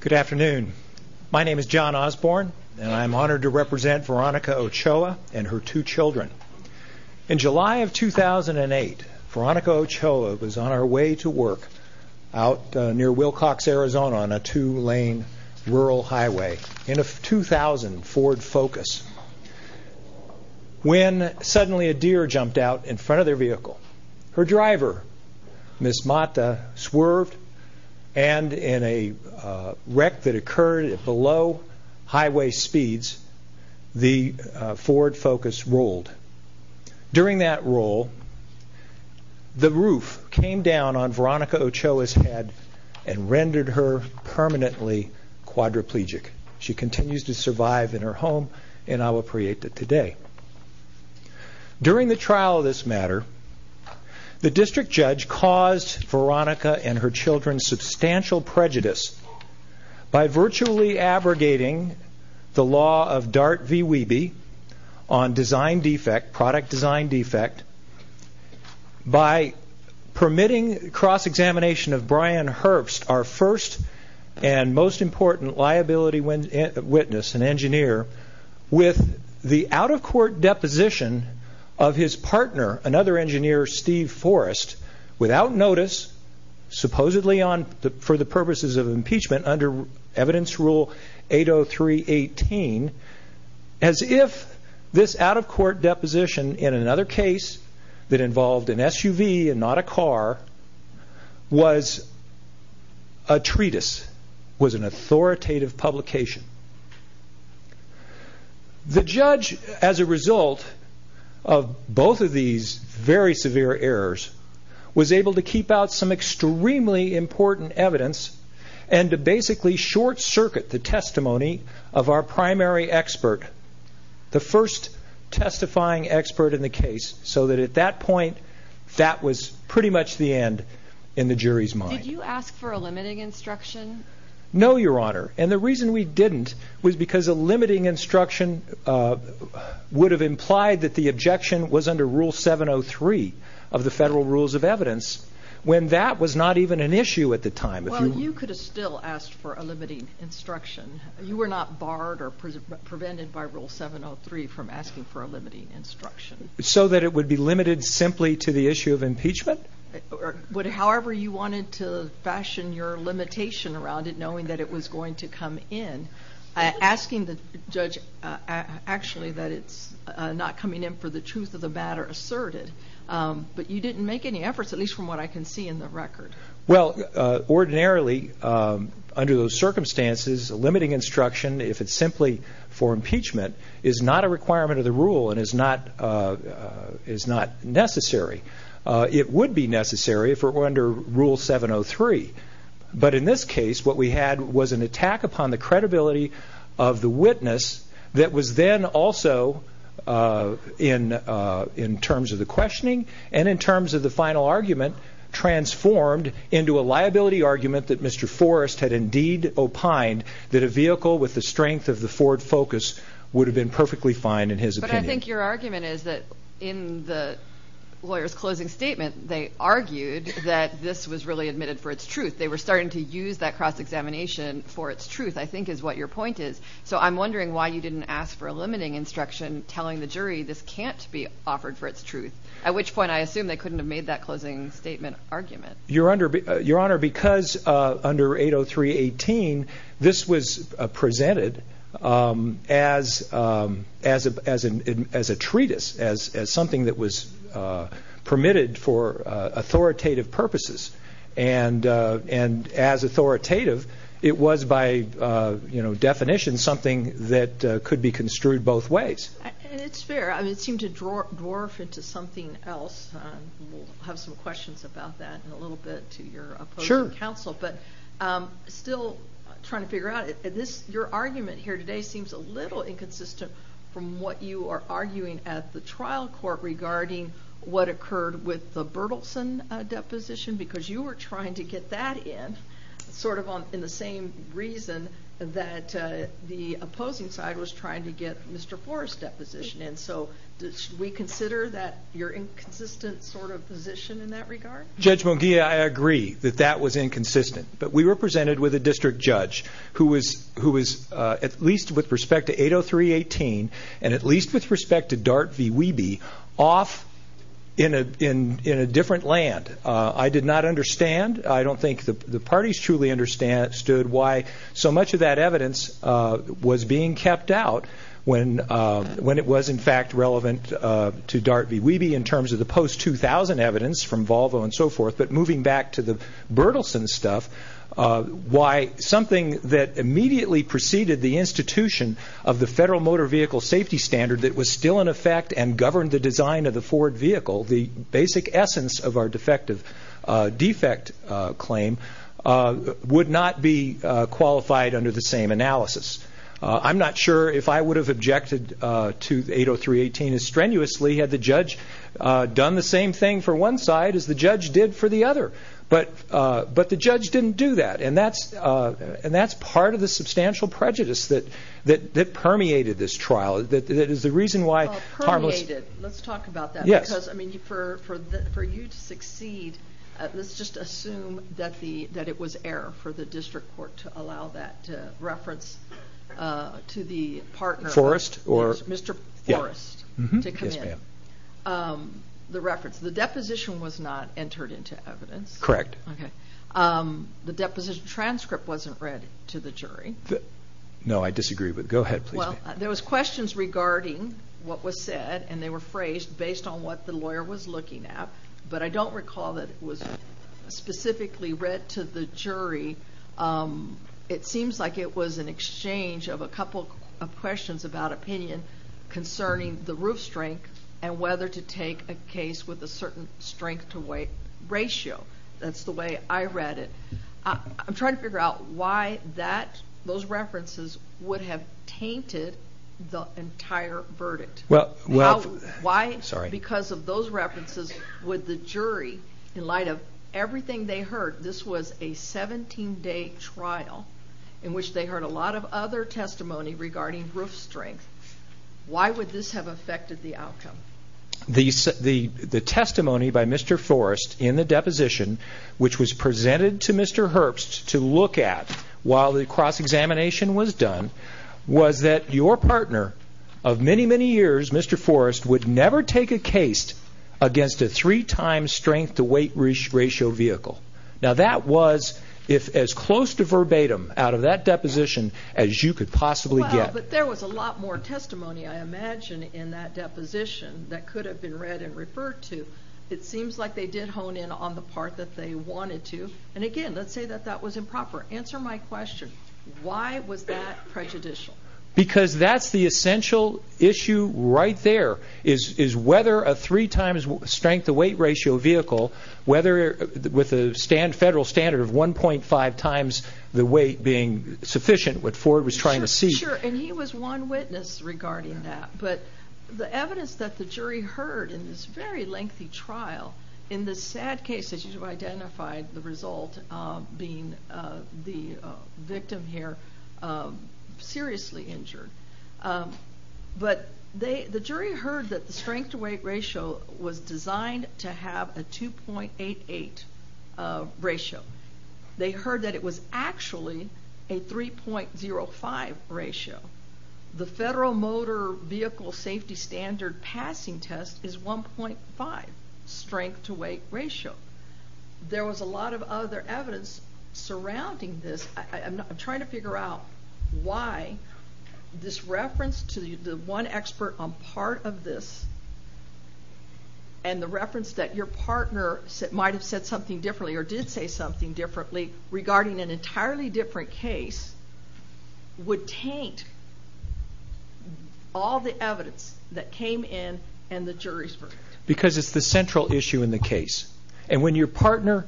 Good afternoon. My name is John Osborne, and I'm honored to represent Veronica Ochoa and her two children. In July of 2008, Veronica Ochoa was on her way to work out near Wilcox, Arizona on a two-lane rural highway in a 2000 Ford Focus. When suddenly a deer jumped out in front of their vehicle, her driver, Ms. Mata, swerved and in a wreck that occurred at below highway speeds, the Ford Focus rolled. During that roll, the roof came down on Veronica Ochoa's head and rendered her permanently quadriplegic. She continues to survive in her home in Agua Prieta today. During the trial of this matter, the district judge caused Veronica and her children substantial prejudice by virtually abrogating the law of Dart v. Wiebe on design defect, product design defect, by permitting cross-examination of Brian Herbst, our first and most important liability witness and engineer, with the out-of-court deposition of his partner, another engineer, Steve Forrest, without notice, supposedly for the purposes of impeachment under Evidence Rule 80318, as if this out-of-court deposition in another case that involved an SUV and not a car was a treatise, was an authoritative publication. The judge, as a result of both of these very severe errors, was able to keep out some extremely important evidence and to basically short-circuit the testimony of our primary expert, the first testifying expert in the case, so that at that point, that was pretty much the end in the jury's mind. Did you ask for a limiting instruction? No, Your Honor, and the reason we didn't was because a limiting instruction would have implied that the objection was under Rule 703 of the Federal Rules of Evidence, when that was not even an issue at the time. Well, you could have still asked for a limiting instruction. You were not barred or prevented by Rule 703 from asking for a limiting instruction. So that it would be limited simply to the issue of impeachment? However you wanted to fashion your limitation around it, knowing that it was going to come in, asking the judge actually that it's not coming in for the truth of the matter asserted, but you didn't make any efforts, at least from what I can see in the record. Well, ordinarily, under those circumstances, a limiting instruction, if it's simply for impeachment, is not a requirement of the rule and is not necessary. It would be necessary if it were under Rule 703, but in this case, what we had was an attack upon the credibility of the witness that was then also, in terms of the questioning and in terms of the final argument, transformed into a liability argument that Mr. Forrest had indeed opined that a vehicle with the strength of the Ford Focus would have been perfectly fine in his opinion. But I think your argument is that in the lawyer's closing statement, they argued that this was really admitted for its truth. They were starting to use that cross-examination for its truth, I think is what your point is. So I'm wondering why you didn't ask for a limiting instruction, telling the jury this can't be offered for its truth, at which point I assume they couldn't have made that closing statement argument. Your Honor, because under 803.18, this was presented as a treatise, as something that was permitted for authoritative purposes, and as authoritative, it was by definition something that could be construed both ways. It's fair. It seemed to dwarf into something else. We'll have some questions about that in a little bit to your opposing counsel. But still trying to figure out, your argument here today seems a little inconsistent from what you are arguing at the trial court regarding what occurred with the Berthelsen deposition, because you were trying to get that in sort of in the same reason that the opposing side was trying to get Mr. Forrest's deposition in. So should we consider that your inconsistent sort of position in that regard? Judge Munguia, I agree that that was inconsistent. But we were presented with a district judge who was at least with respect to 803.18 and at least with respect to Dart v. Wiebe off in a different land. I did not understand. I don't think the parties truly understood why so much of that evidence was being kept out when it was in fact relevant to Dart v. Wiebe in terms of the post-2000 evidence from Volvo and so forth. But moving back to the Berthelsen stuff, why something that immediately preceded the institution of the Federal Motor Vehicle Safety Standard that was still in effect and governed the design of the Ford vehicle, the basic essence of our defect claim, would not be qualified under the same analysis. I'm not sure if I would have objected to 803.18 as strenuously had the judge done the same thing for one side as the judge did for the other. But the judge didn't do that. And that's part of the substantial prejudice that permeated this trial. Well, permeated. Let's talk about that. Because for you to succeed, let's just assume that it was error for the district court to allow that reference to the partner, Mr. Forrest, to come in. The deposition was not entered into evidence. Correct. The deposition transcript wasn't read to the jury. No, I disagree with that. Go ahead, please. Well, there was questions regarding what was said, and they were phrased based on what the lawyer was looking at. But I don't recall that it was specifically read to the jury. It seems like it was an exchange of a couple of questions about opinion concerning the roof strength and whether to take a case with a certain strength-to-weight ratio. That's the way I read it. I'm trying to figure out why those references would have tainted the entire verdict. Why, because of those references, would the jury, in light of everything they heard, this was a 17-day trial in which they heard a lot of other testimony regarding roof strength. Why would this have affected the outcome? The testimony by Mr. Forrest in the deposition, which was presented to Mr. Herbst to look at while the cross-examination was done, was that your partner of many, many years, Mr. Forrest, would never take a case against a three-time strength-to-weight ratio vehicle. Now, that was as close to verbatim out of that deposition as you could possibly get. Well, but there was a lot more testimony, I imagine, in that deposition that could have been read and referred to. It seems like they did hone in on the part that they wanted to. And again, let's say that that was improper. Answer my question. Why was that prejudicial? Because that's the essential issue right there, is whether a three-times strength-to-weight ratio vehicle, with a federal standard of 1.5 times the weight being sufficient, what Ford was trying to see. Sure, and he was one witness regarding that. But the evidence that the jury heard in this very lengthy trial, in this sad case, as you've identified, the result being the victim here seriously injured. But the jury heard that the strength-to-weight ratio was designed to have a 2.88 ratio. They heard that it was actually a 3.05 ratio. The federal motor vehicle safety standard passing test is 1.5 strength-to-weight ratio. There was a lot of other evidence surrounding this. I'm trying to figure out why this reference to the one expert on part of this, and the reference that your partner might have said something differently, or did say something differently, regarding an entirely different case, would taint all the evidence that came in and the jury's verdict. Because it's the central issue in the case. And when your partner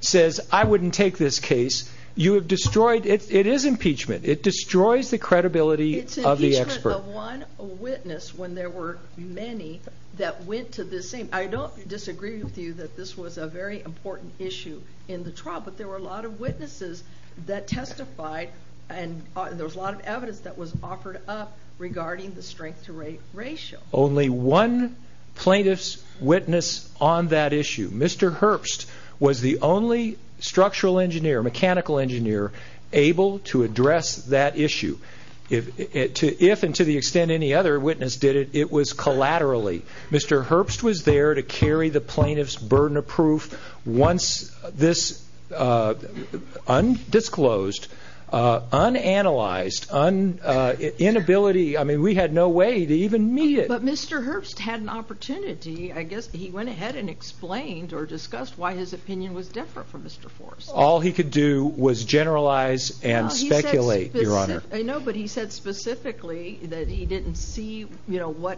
says, I wouldn't take this case, you have destroyed... It is impeachment. It destroys the credibility of the expert. It's impeachment of one witness when there were many that went to this scene. I don't disagree with you that this was a very important issue in the trial, but there were a lot of witnesses that testified, and there was a lot of evidence that was offered up regarding the strength-to-weight ratio. Only one plaintiff's witness on that issue, Mr. Herbst, was the only structural engineer, mechanical engineer, able to address that issue. If and to the extent any other witness did it, it was collaterally. Mr. Herbst was there to carry the plaintiff's burden of proof. Once this undisclosed, unanalyzed, inability... I mean, we had no way to even meet it. But Mr. Herbst had an opportunity. I guess he went ahead and explained or discussed why his opinion was different from Mr. Forrest's. All he could do was generalize and speculate, Your Honor. I know, but he said specifically that he didn't see the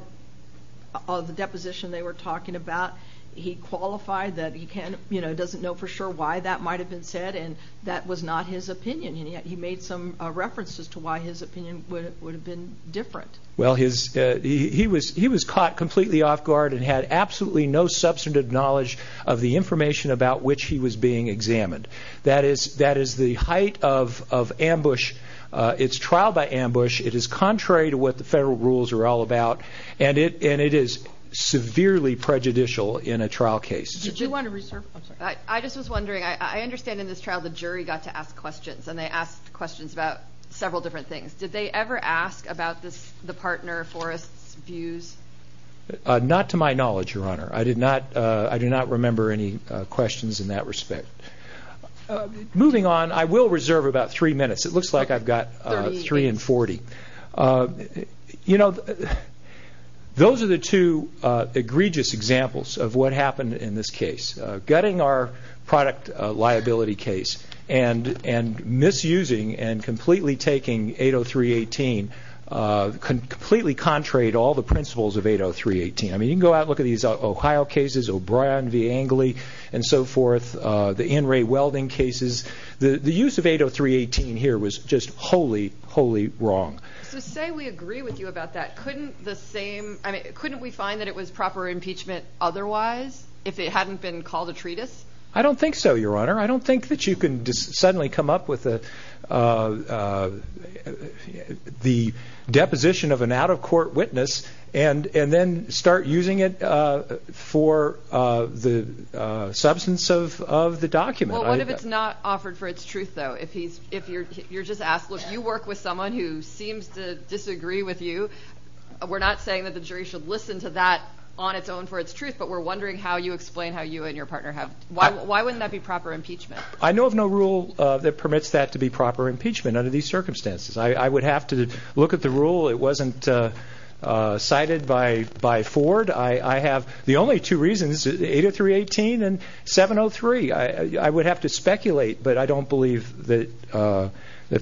deposition they were talking about. He qualified that he doesn't know for sure why that might have been said, and that was not his opinion, and yet he made some references to why his opinion would have been different. Well, he was caught completely off-guard and had absolutely no substantive knowledge of the information about which he was being examined. That is the height of ambush. It's trial by ambush. It is contrary to what the federal rules are all about, and it is severely prejudicial in a trial case. Did you want to reserve... I'm sorry. I just was wondering. I understand in this trial the jury got to ask questions, and they asked questions about several different things. Did they ever ask about the partner, Forrest's, views? Not to my knowledge, Your Honor. I do not remember any questions in that respect. Moving on, I will reserve about three minutes. It looks like I've got three and 40. You know, those are the two egregious examples of what happened in this case, gutting our product liability case and misusing and completely taking 803.18, completely contrary to all the principles of 803.18. I mean, you can go out and look at these Ohio cases, O'Brien v. Angley and so forth, the in-ray welding cases. The use of 803.18 here was just wholly, wholly wrong. So say we agree with you about that. Couldn't we find that it was proper impeachment otherwise, if it hadn't been called a treatise? I don't think so, Your Honor. I don't think that you can suddenly come up with the deposition of an out-of-court witness and then start using it for the substance of the document. Well, what if it's not offered for its truth, though? If you're just asked, look, you work with someone who seems to disagree with you. We're not saying that the jury should listen to that on its own for its truth, but we're wondering how you explain how you and your partner have – why wouldn't that be proper impeachment? I know of no rule that permits that to be proper impeachment under these circumstances. I would have to look at the rule. It wasn't cited by Ford. I have the only two reasons, 803.18 and 703. I would have to speculate, but I don't believe that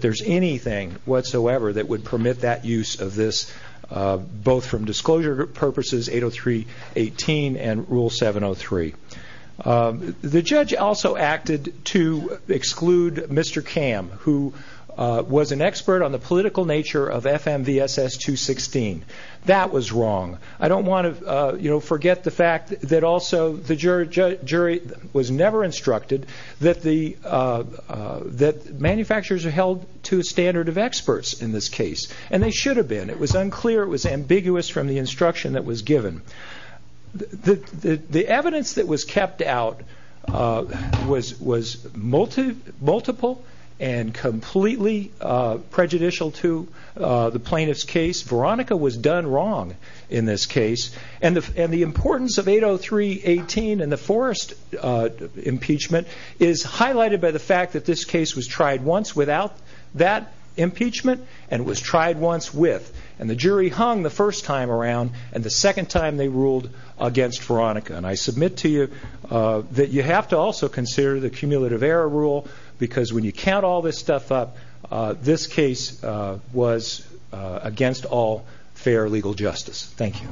there's anything whatsoever that would permit that use of this, both from disclosure purposes, 803.18 and rule 703. The judge also acted to exclude Mr. Kamm, who was an expert on the political nature of FMVSS 216. That was wrong. I don't want to forget the fact that also the jury was never instructed that manufacturers are held to a standard of experts in this case, and they should have been. It was unclear. It was ambiguous from the instruction that was given. The evidence that was kept out was multiple and completely prejudicial to the plaintiff's case. Veronica was done wrong in this case. The importance of 803.18 and the Forrest impeachment is highlighted by the fact that this case was tried once without that impeachment and was tried once with. The jury hung the first time around, and the second time they ruled against Veronica. I submit to you that you have to also consider the cumulative error rule because when you count all this stuff up, this case was against all fair legal justice. Thank you.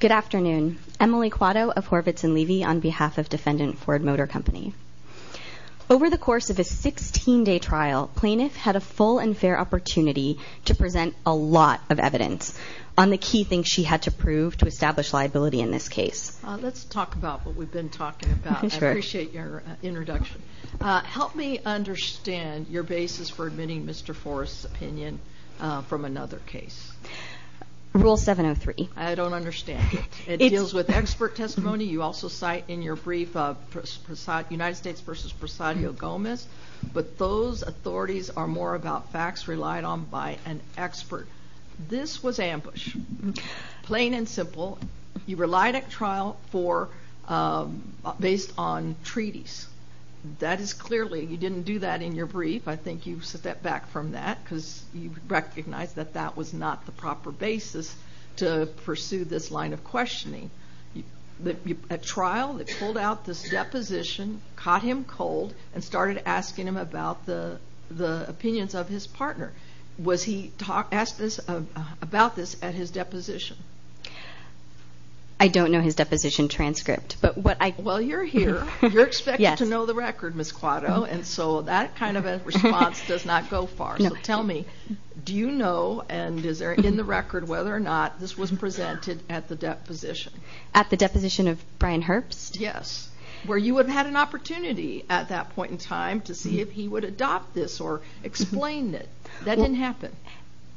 Good afternoon. Emily Quatto of Horvitz and Levy on behalf of defendant Ford Motor Company. Over the course of a 16-day trial, plaintiff had a full and fair opportunity to present a lot of evidence on the key things she had to prove to establish liability in this case. Let's talk about what we've been talking about. I appreciate your introduction. Help me understand your basis for admitting Mr. Forrest's opinion from another case. Rule 703. I don't understand it. It deals with expert testimony. You also cite in your brief United States versus Presadio Gomez, but those authorities are more about facts relied on by an expert. This was ambush, plain and simple. You relied at trial based on treaties. That is clearly you didn't do that in your brief. I think you step back from that because you recognize that that was not the proper basis to pursue this line of questioning. At trial, they pulled out this deposition, caught him cold, and started asking him about the opinions of his partner. Was he asked about this at his deposition? I don't know his deposition transcript. Well, you're here. You're expected to know the record, Ms. Quatto, and so that kind of a response does not go far. So tell me, do you know and is there in the record whether or not this was presented at the deposition? At the deposition of Brian Herbst? Yes, where you would have had an opportunity at that point in time to see if he would adopt this or explain it. That didn't happen.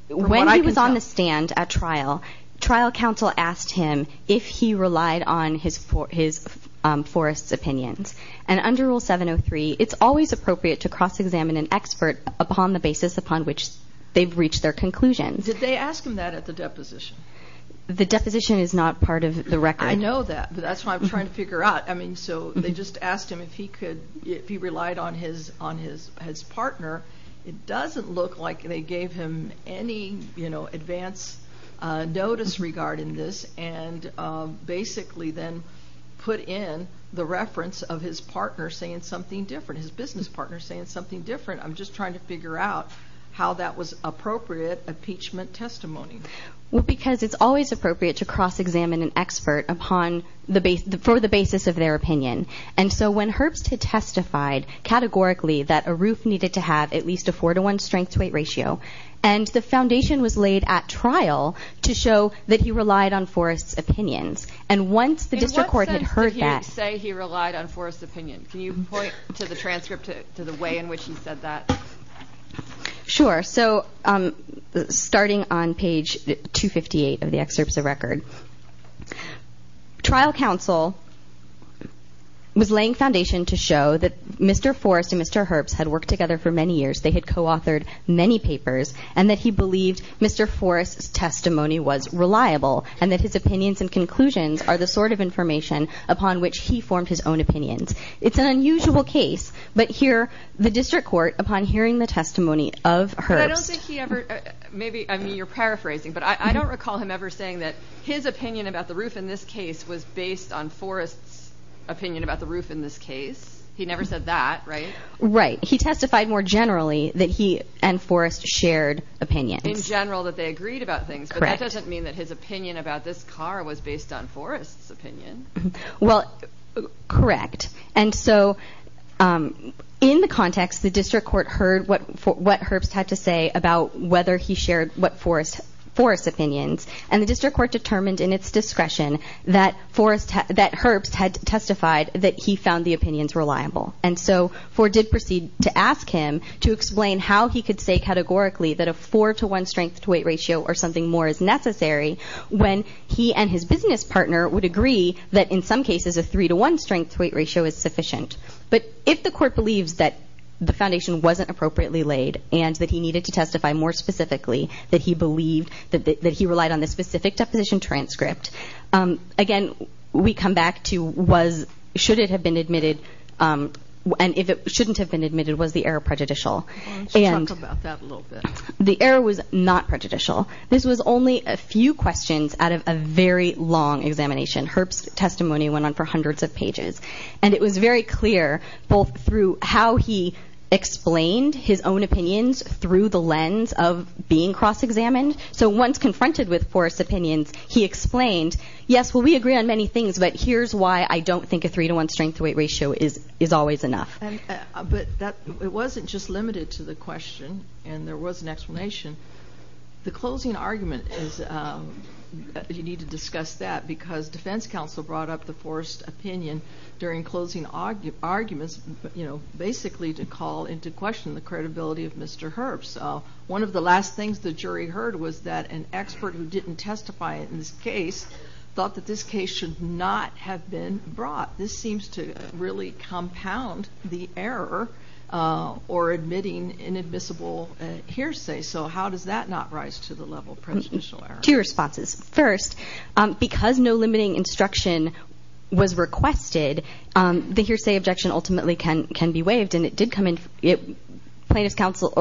When he was on the stand at trial, trial counsel asked him if he relied on his forest's opinions. And under Rule 703, it's always appropriate to cross-examine an expert upon the basis upon which they've reached their conclusions. Did they ask him that at the deposition? The deposition is not part of the record. I know that, but that's what I'm trying to figure out. So they just asked him if he relied on his partner. It doesn't look like they gave him any advance notice regarding this and basically then put in the reference of his partner saying something different, his business partner saying something different. I'm just trying to figure out how that was appropriate impeachment testimony. Because it's always appropriate to cross-examine an expert for the basis of their opinion. And so when Herbst had testified categorically that a roof needed to have at least a 4-to-1 strength-to-weight ratio, and the foundation was laid at trial to show that he relied on forest's opinions, and once the district court had heard that— In what sense did he say he relied on forest's opinion? Can you point to the transcript to the way in which he said that? Sure. So starting on page 258 of the excerpts of record, trial counsel was laying foundation to show that Mr. Forest and Mr. Herbst had worked together for many years, they had co-authored many papers, and that he believed Mr. Forest's testimony was reliable and that his opinions and conclusions are the sort of information upon which he formed his own opinions. It's an unusual case, but here, the district court, upon hearing the testimony of Herbst— I don't think he ever—I mean, you're paraphrasing, but I don't recall him ever saying that his opinion about the roof in this case was based on forest's opinion about the roof in this case. He never said that, right? Right. He testified more generally that he and forest shared opinions. In general, that they agreed about things, Well, correct. And so in the context, the district court heard what Herbst had to say about whether he shared what forest's opinions, and the district court determined in its discretion that Herbst had testified that he found the opinions reliable. And so Ford did proceed to ask him to explain how he could say categorically that a four-to-one strength-to-weight ratio or something more is necessary when he and his business partner would agree that in some cases a three-to-one strength-to-weight ratio is sufficient. But if the court believes that the foundation wasn't appropriately laid and that he needed to testify more specifically, that he relied on the specific deposition transcript, again, we come back to should it have been admitted, and if it shouldn't have been admitted, was the error prejudicial. Talk about that a little bit. The error was not prejudicial. This was only a few questions out of a very long examination. Herbst's testimony went on for hundreds of pages, and it was very clear both through how he explained his own opinions through the lens of being cross-examined. So once confronted with Forrest's opinions, he explained, yes, well, we agree on many things, but here's why I don't think a three-to-one strength-to-weight ratio is always enough. But it wasn't just limited to the question, and there was an explanation. The closing argument is you need to discuss that because defense counsel brought up the Forrest opinion during closing arguments, you know, basically to call into question the credibility of Mr. Herbst. One of the last things the jury heard was that an expert who didn't testify in this case thought that this case should not have been brought. This seems to really compound the error or admitting inadmissible hearsay. So how does that not rise to the level of presidential error? Two responses. First, because no limiting instruction was requested, the hearsay objection ultimately can be waived, and defense counsel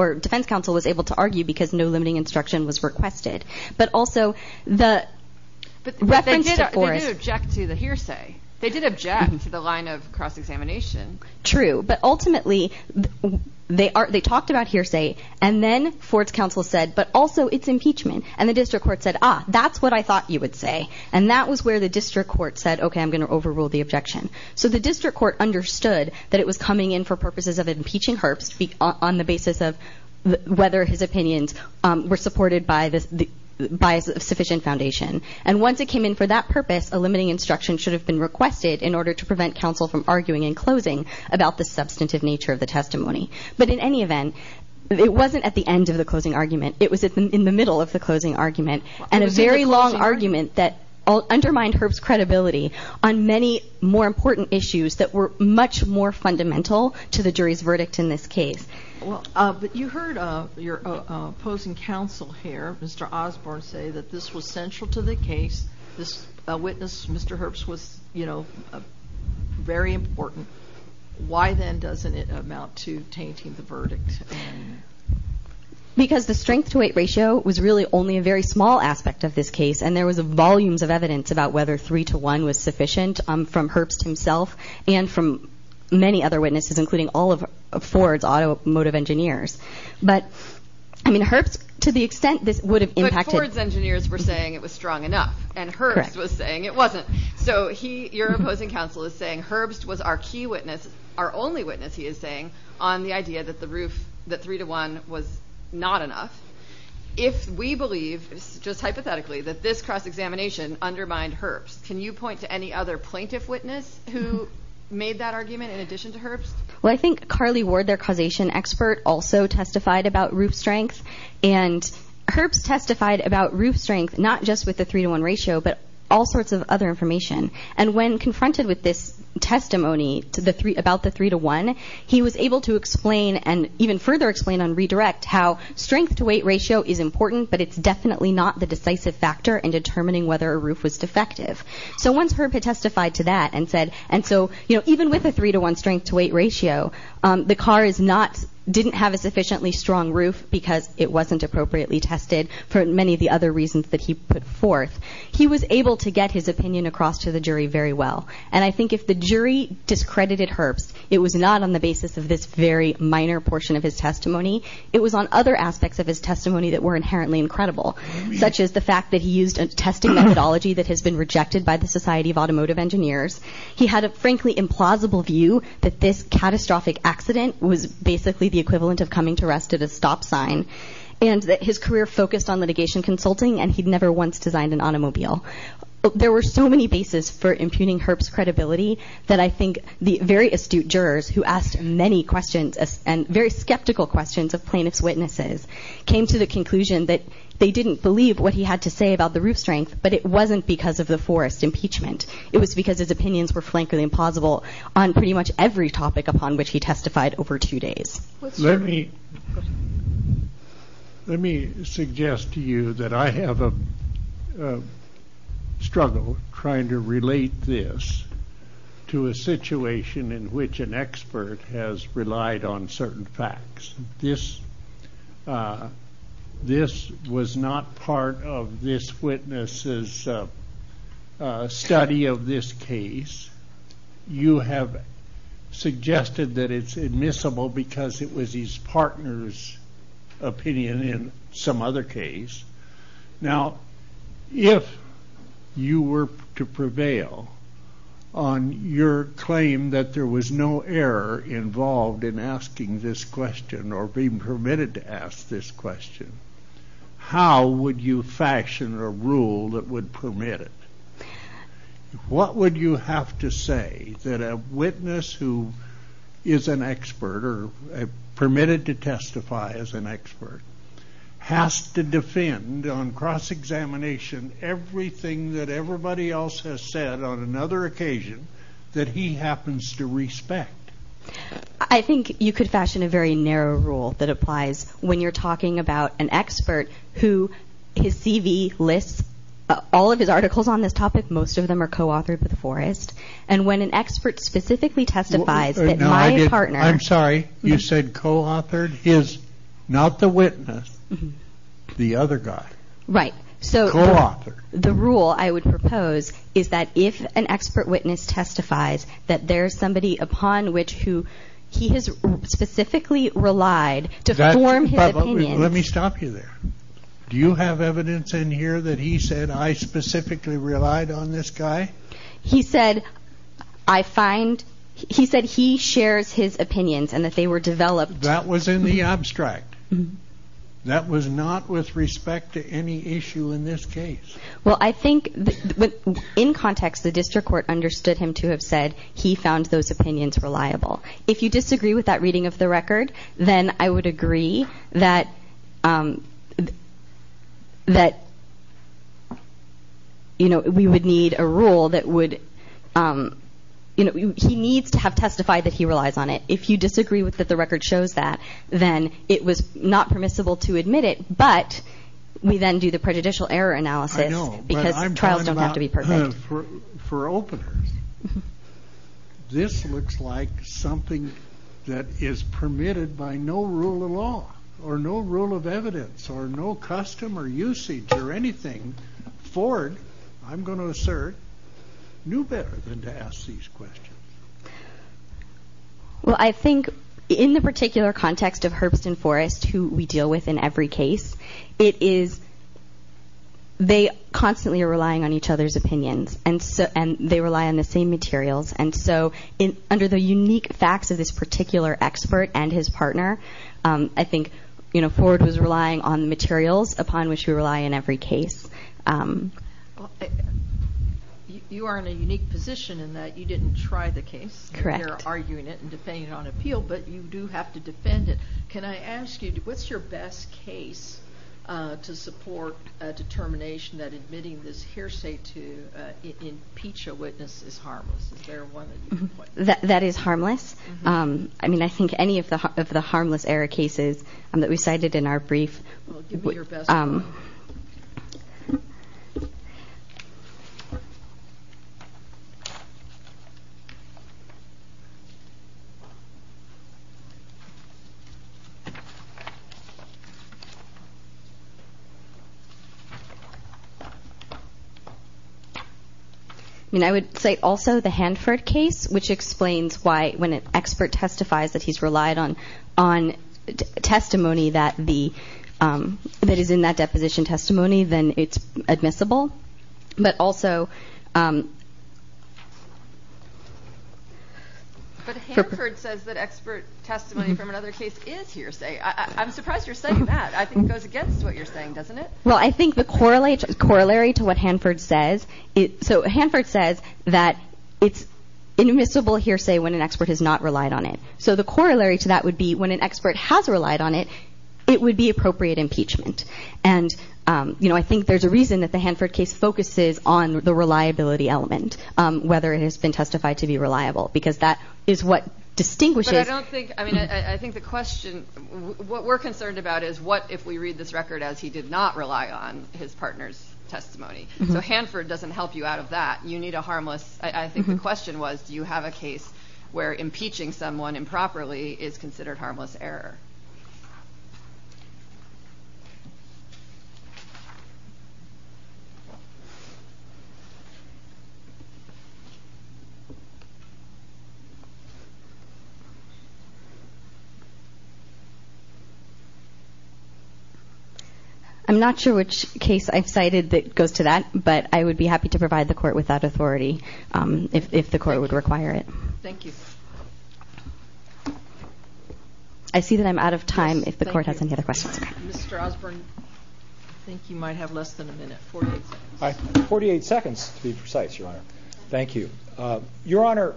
was able to argue because no limiting instruction was requested. But also the reference to Forrest— But they did object to the hearsay. They did object to the line of cross-examination. True, but ultimately they talked about hearsay, and then Forrest's counsel said, but also it's impeachment. And the district court said, ah, that's what I thought you would say. And that was where the district court said, okay, I'm going to overrule the objection. So the district court understood that it was coming in for purposes of impeaching Herbst on the basis of whether his opinions were supported by a sufficient foundation. And once it came in for that purpose, a limiting instruction should have been requested in order to prevent counsel from arguing in closing about the substantive nature of the testimony. But in any event, it wasn't at the end of the closing argument. It was in the middle of the closing argument, and a very long argument that undermined Herbst's credibility on many more important issues that were much more fundamental to the jury's verdict in this case. Well, but you heard your opposing counsel here, Mr. Osborne, say that this was central to the case. This witness, Mr. Herbst, was, you know, very important. Why then doesn't it amount to tainting the verdict? Because the strength-to-weight ratio was really only a very small aspect of this case, and there was volumes of evidence about whether three-to-one was sufficient from Herbst himself and from many other witnesses, including all of Ford's automotive engineers. But, I mean, Herbst, to the extent this would have impacted... But Ford's engineers were saying it was strong enough, and Herbst was saying it wasn't. So he, your opposing counsel, is saying Herbst was our key witness, our only witness, he is saying, on the idea that the roof, that three-to-one was not enough. If we believe, just hypothetically, that this cross-examination undermined Herbst, can you point to any other plaintiff witness who made that argument in addition to Herbst? Well, I think Carly Ward, their causation expert, also testified about roof strength, and Herbst testified about roof strength not just with the three-to-one ratio, but all sorts of other information. And when confronted with this testimony about the three-to-one, he was able to explain and even further explain on redirect how strength-to-weight ratio is important, but it's definitely not the decisive factor in determining whether a roof was defective. So once Herbst had testified to that and said... And so, you know, even with a three-to-one strength-to-weight ratio, the car is not... didn't have a sufficiently strong roof because it wasn't appropriately tested for many of the other reasons that he put forth. He was able to get his opinion across to the jury very well. And I think if the jury discredited Herbst, it was not on the basis of this very minor portion of his testimony. It was on other aspects of his testimony that were inherently incredible, such as the fact that he used a testing methodology that has been rejected by the Society of Automotive Engineers. He had a, frankly, implausible view that this catastrophic accident was basically the equivalent of coming to rest at a stop sign, and that his career focused on litigation consulting, and he'd never once designed an automobile. There were so many bases for impugning Herbst's credibility that I think the very astute jurors who asked many questions and very skeptical questions of plaintiff's witnesses came to the conclusion that they didn't believe what he had to say about the roof strength, but it wasn't because of the forest impeachment. It was because his opinions were frankly implausible on pretty much every topic upon which he testified over two days. Let me suggest to you that I have a struggle trying to relate this to a situation in which an expert has relied on certain facts. This was not part of this witness's study of this case. You have suggested that it's admissible because it was his partner's opinion in some other case. Now, if you were to prevail on your claim that there was no error involved in asking this question or being permitted to ask this question, how would you fashion a rule that would permit it? What would you have to say that a witness who is an expert or permitted to testify as an expert has to defend on cross-examination everything that everybody else has said on another occasion that he happens to respect? I think you could fashion a very narrow rule that applies when you're talking about an expert who his CV lists all of his articles on this topic. Most of them are co-authored with the forest. And when an expert specifically testifies that my partner... I'm sorry, you said co-authored? His, not the witness, the other guy. Right. Co-authored. The rule I would propose is that if an expert witness testifies that there's somebody upon which he has specifically relied to form his opinion... Let me stop you there. Do you have evidence in here that he said, I specifically relied on this guy? He said, I find... He said he shares his opinions and that they were developed... That was in the abstract. That was not with respect to any issue in this case. Well, I think in context, the district court understood him to have said he found those opinions reliable. If you disagree with that reading of the record, then I would agree that we would need a rule that would... He needs to have testified that he relies on it. If you disagree with that the record shows that, then it was not permissible to admit it, but we then do the prejudicial error analysis because trials don't have to be perfect. I know, but I'm talking about for openers. This looks like something that is permitted by no rule of law or no rule of evidence or no custom or usage or anything. Ford, I'm going to assert, knew better than to ask these questions. Well, I think in the particular context of Herbst and Forrest, who we deal with in every case, it is... They constantly are relying on each other's opinions and they rely on the same materials. And so under the unique facts of this particular expert and his partner, I think Ford was relying on materials upon which we rely in every case. You are in a unique position in that you didn't try the case. Correct. You're arguing it and defending it on appeal, but you do have to defend it. Can I ask you, what's your best case to support a determination that admitting this hearsay to impeach a witness is harmless? Is there one that you can point to? That is harmless. I mean, I think any of the harmless error cases that we cited in our brief... Well, give me your best one. I mean, I would say also the Hanford case, which explains why when an expert testifies that he's relied on testimony that is in that deposition testimony, then it's admissible. But also... But Hanford says that expert testimony from another case is hearsay. I'm surprised you're saying that. I think it goes against what you're saying, doesn't it? Well, I think the corollary to what Hanford says... So Hanford says that it's admissible hearsay when an expert has not relied on it. So the corollary to that would be when an expert has relied on it, it would be appropriate impeachment. And I think there's a reason that the Hanford case focuses on the reliability element, whether it has been testified to be reliable, because that is what distinguishes... But I don't think... I mean, I think the question... What we're concerned about is what if we read this record as he did not rely on his partner's testimony. So Hanford doesn't help you out of that. You need a harmless... I think the question was, do you have a case where impeaching someone improperly is considered harmless error? I'm not sure which case I've cited that goes to that, but I would be happy to provide the court with that authority if the court would require it. Thank you. I see that I'm out of time if the court has any other questions. Mr. Osborne, I think you might have less than a minute, 48 seconds. 48 seconds, to be precise, Your Honor. Thank you. Your Honor,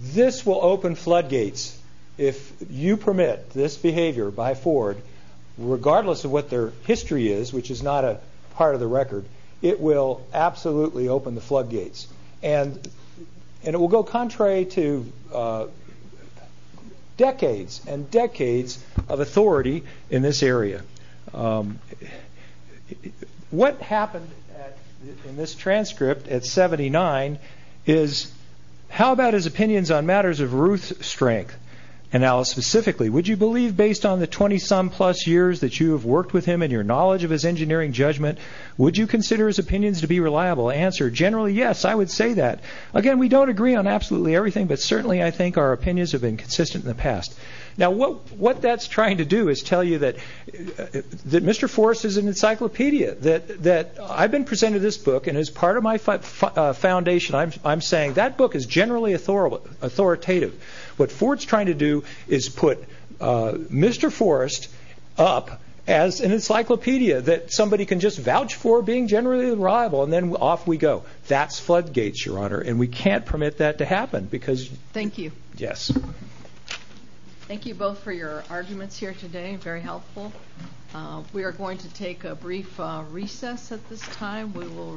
this will open floodgates if you permit this behavior by Ford, regardless of what their history is, which is not a part of the record, it will absolutely open the floodgates. And it will go contrary to decades and decades of authority in this area. What happened in this transcript at 79 is, how about his opinions on matters of Ruth's strength? And now specifically, would you believe based on the 20-some-plus years that you have worked with him and your knowledge of his engineering judgment, would you consider his opinions to be reliable? Answer, generally, yes, I would say that. Again, we don't agree on absolutely everything, but certainly I think our opinions have been consistent in the past. Now, what that's trying to do is tell you that Mr. Forrest is an encyclopedia. I've been presented this book, and as part of my foundation, I'm saying that book is generally authoritative. What Ford's trying to do is put Mr. Forrest up as an encyclopedia that somebody can just vouch for being generally reliable, and then off we go. That's floodgates, Your Honor, and we can't permit that to happen. Thank you. Yes. Thank you both for your arguments here today. Very helpful. We are going to take a brief recess at this time. We will resume in just a moment.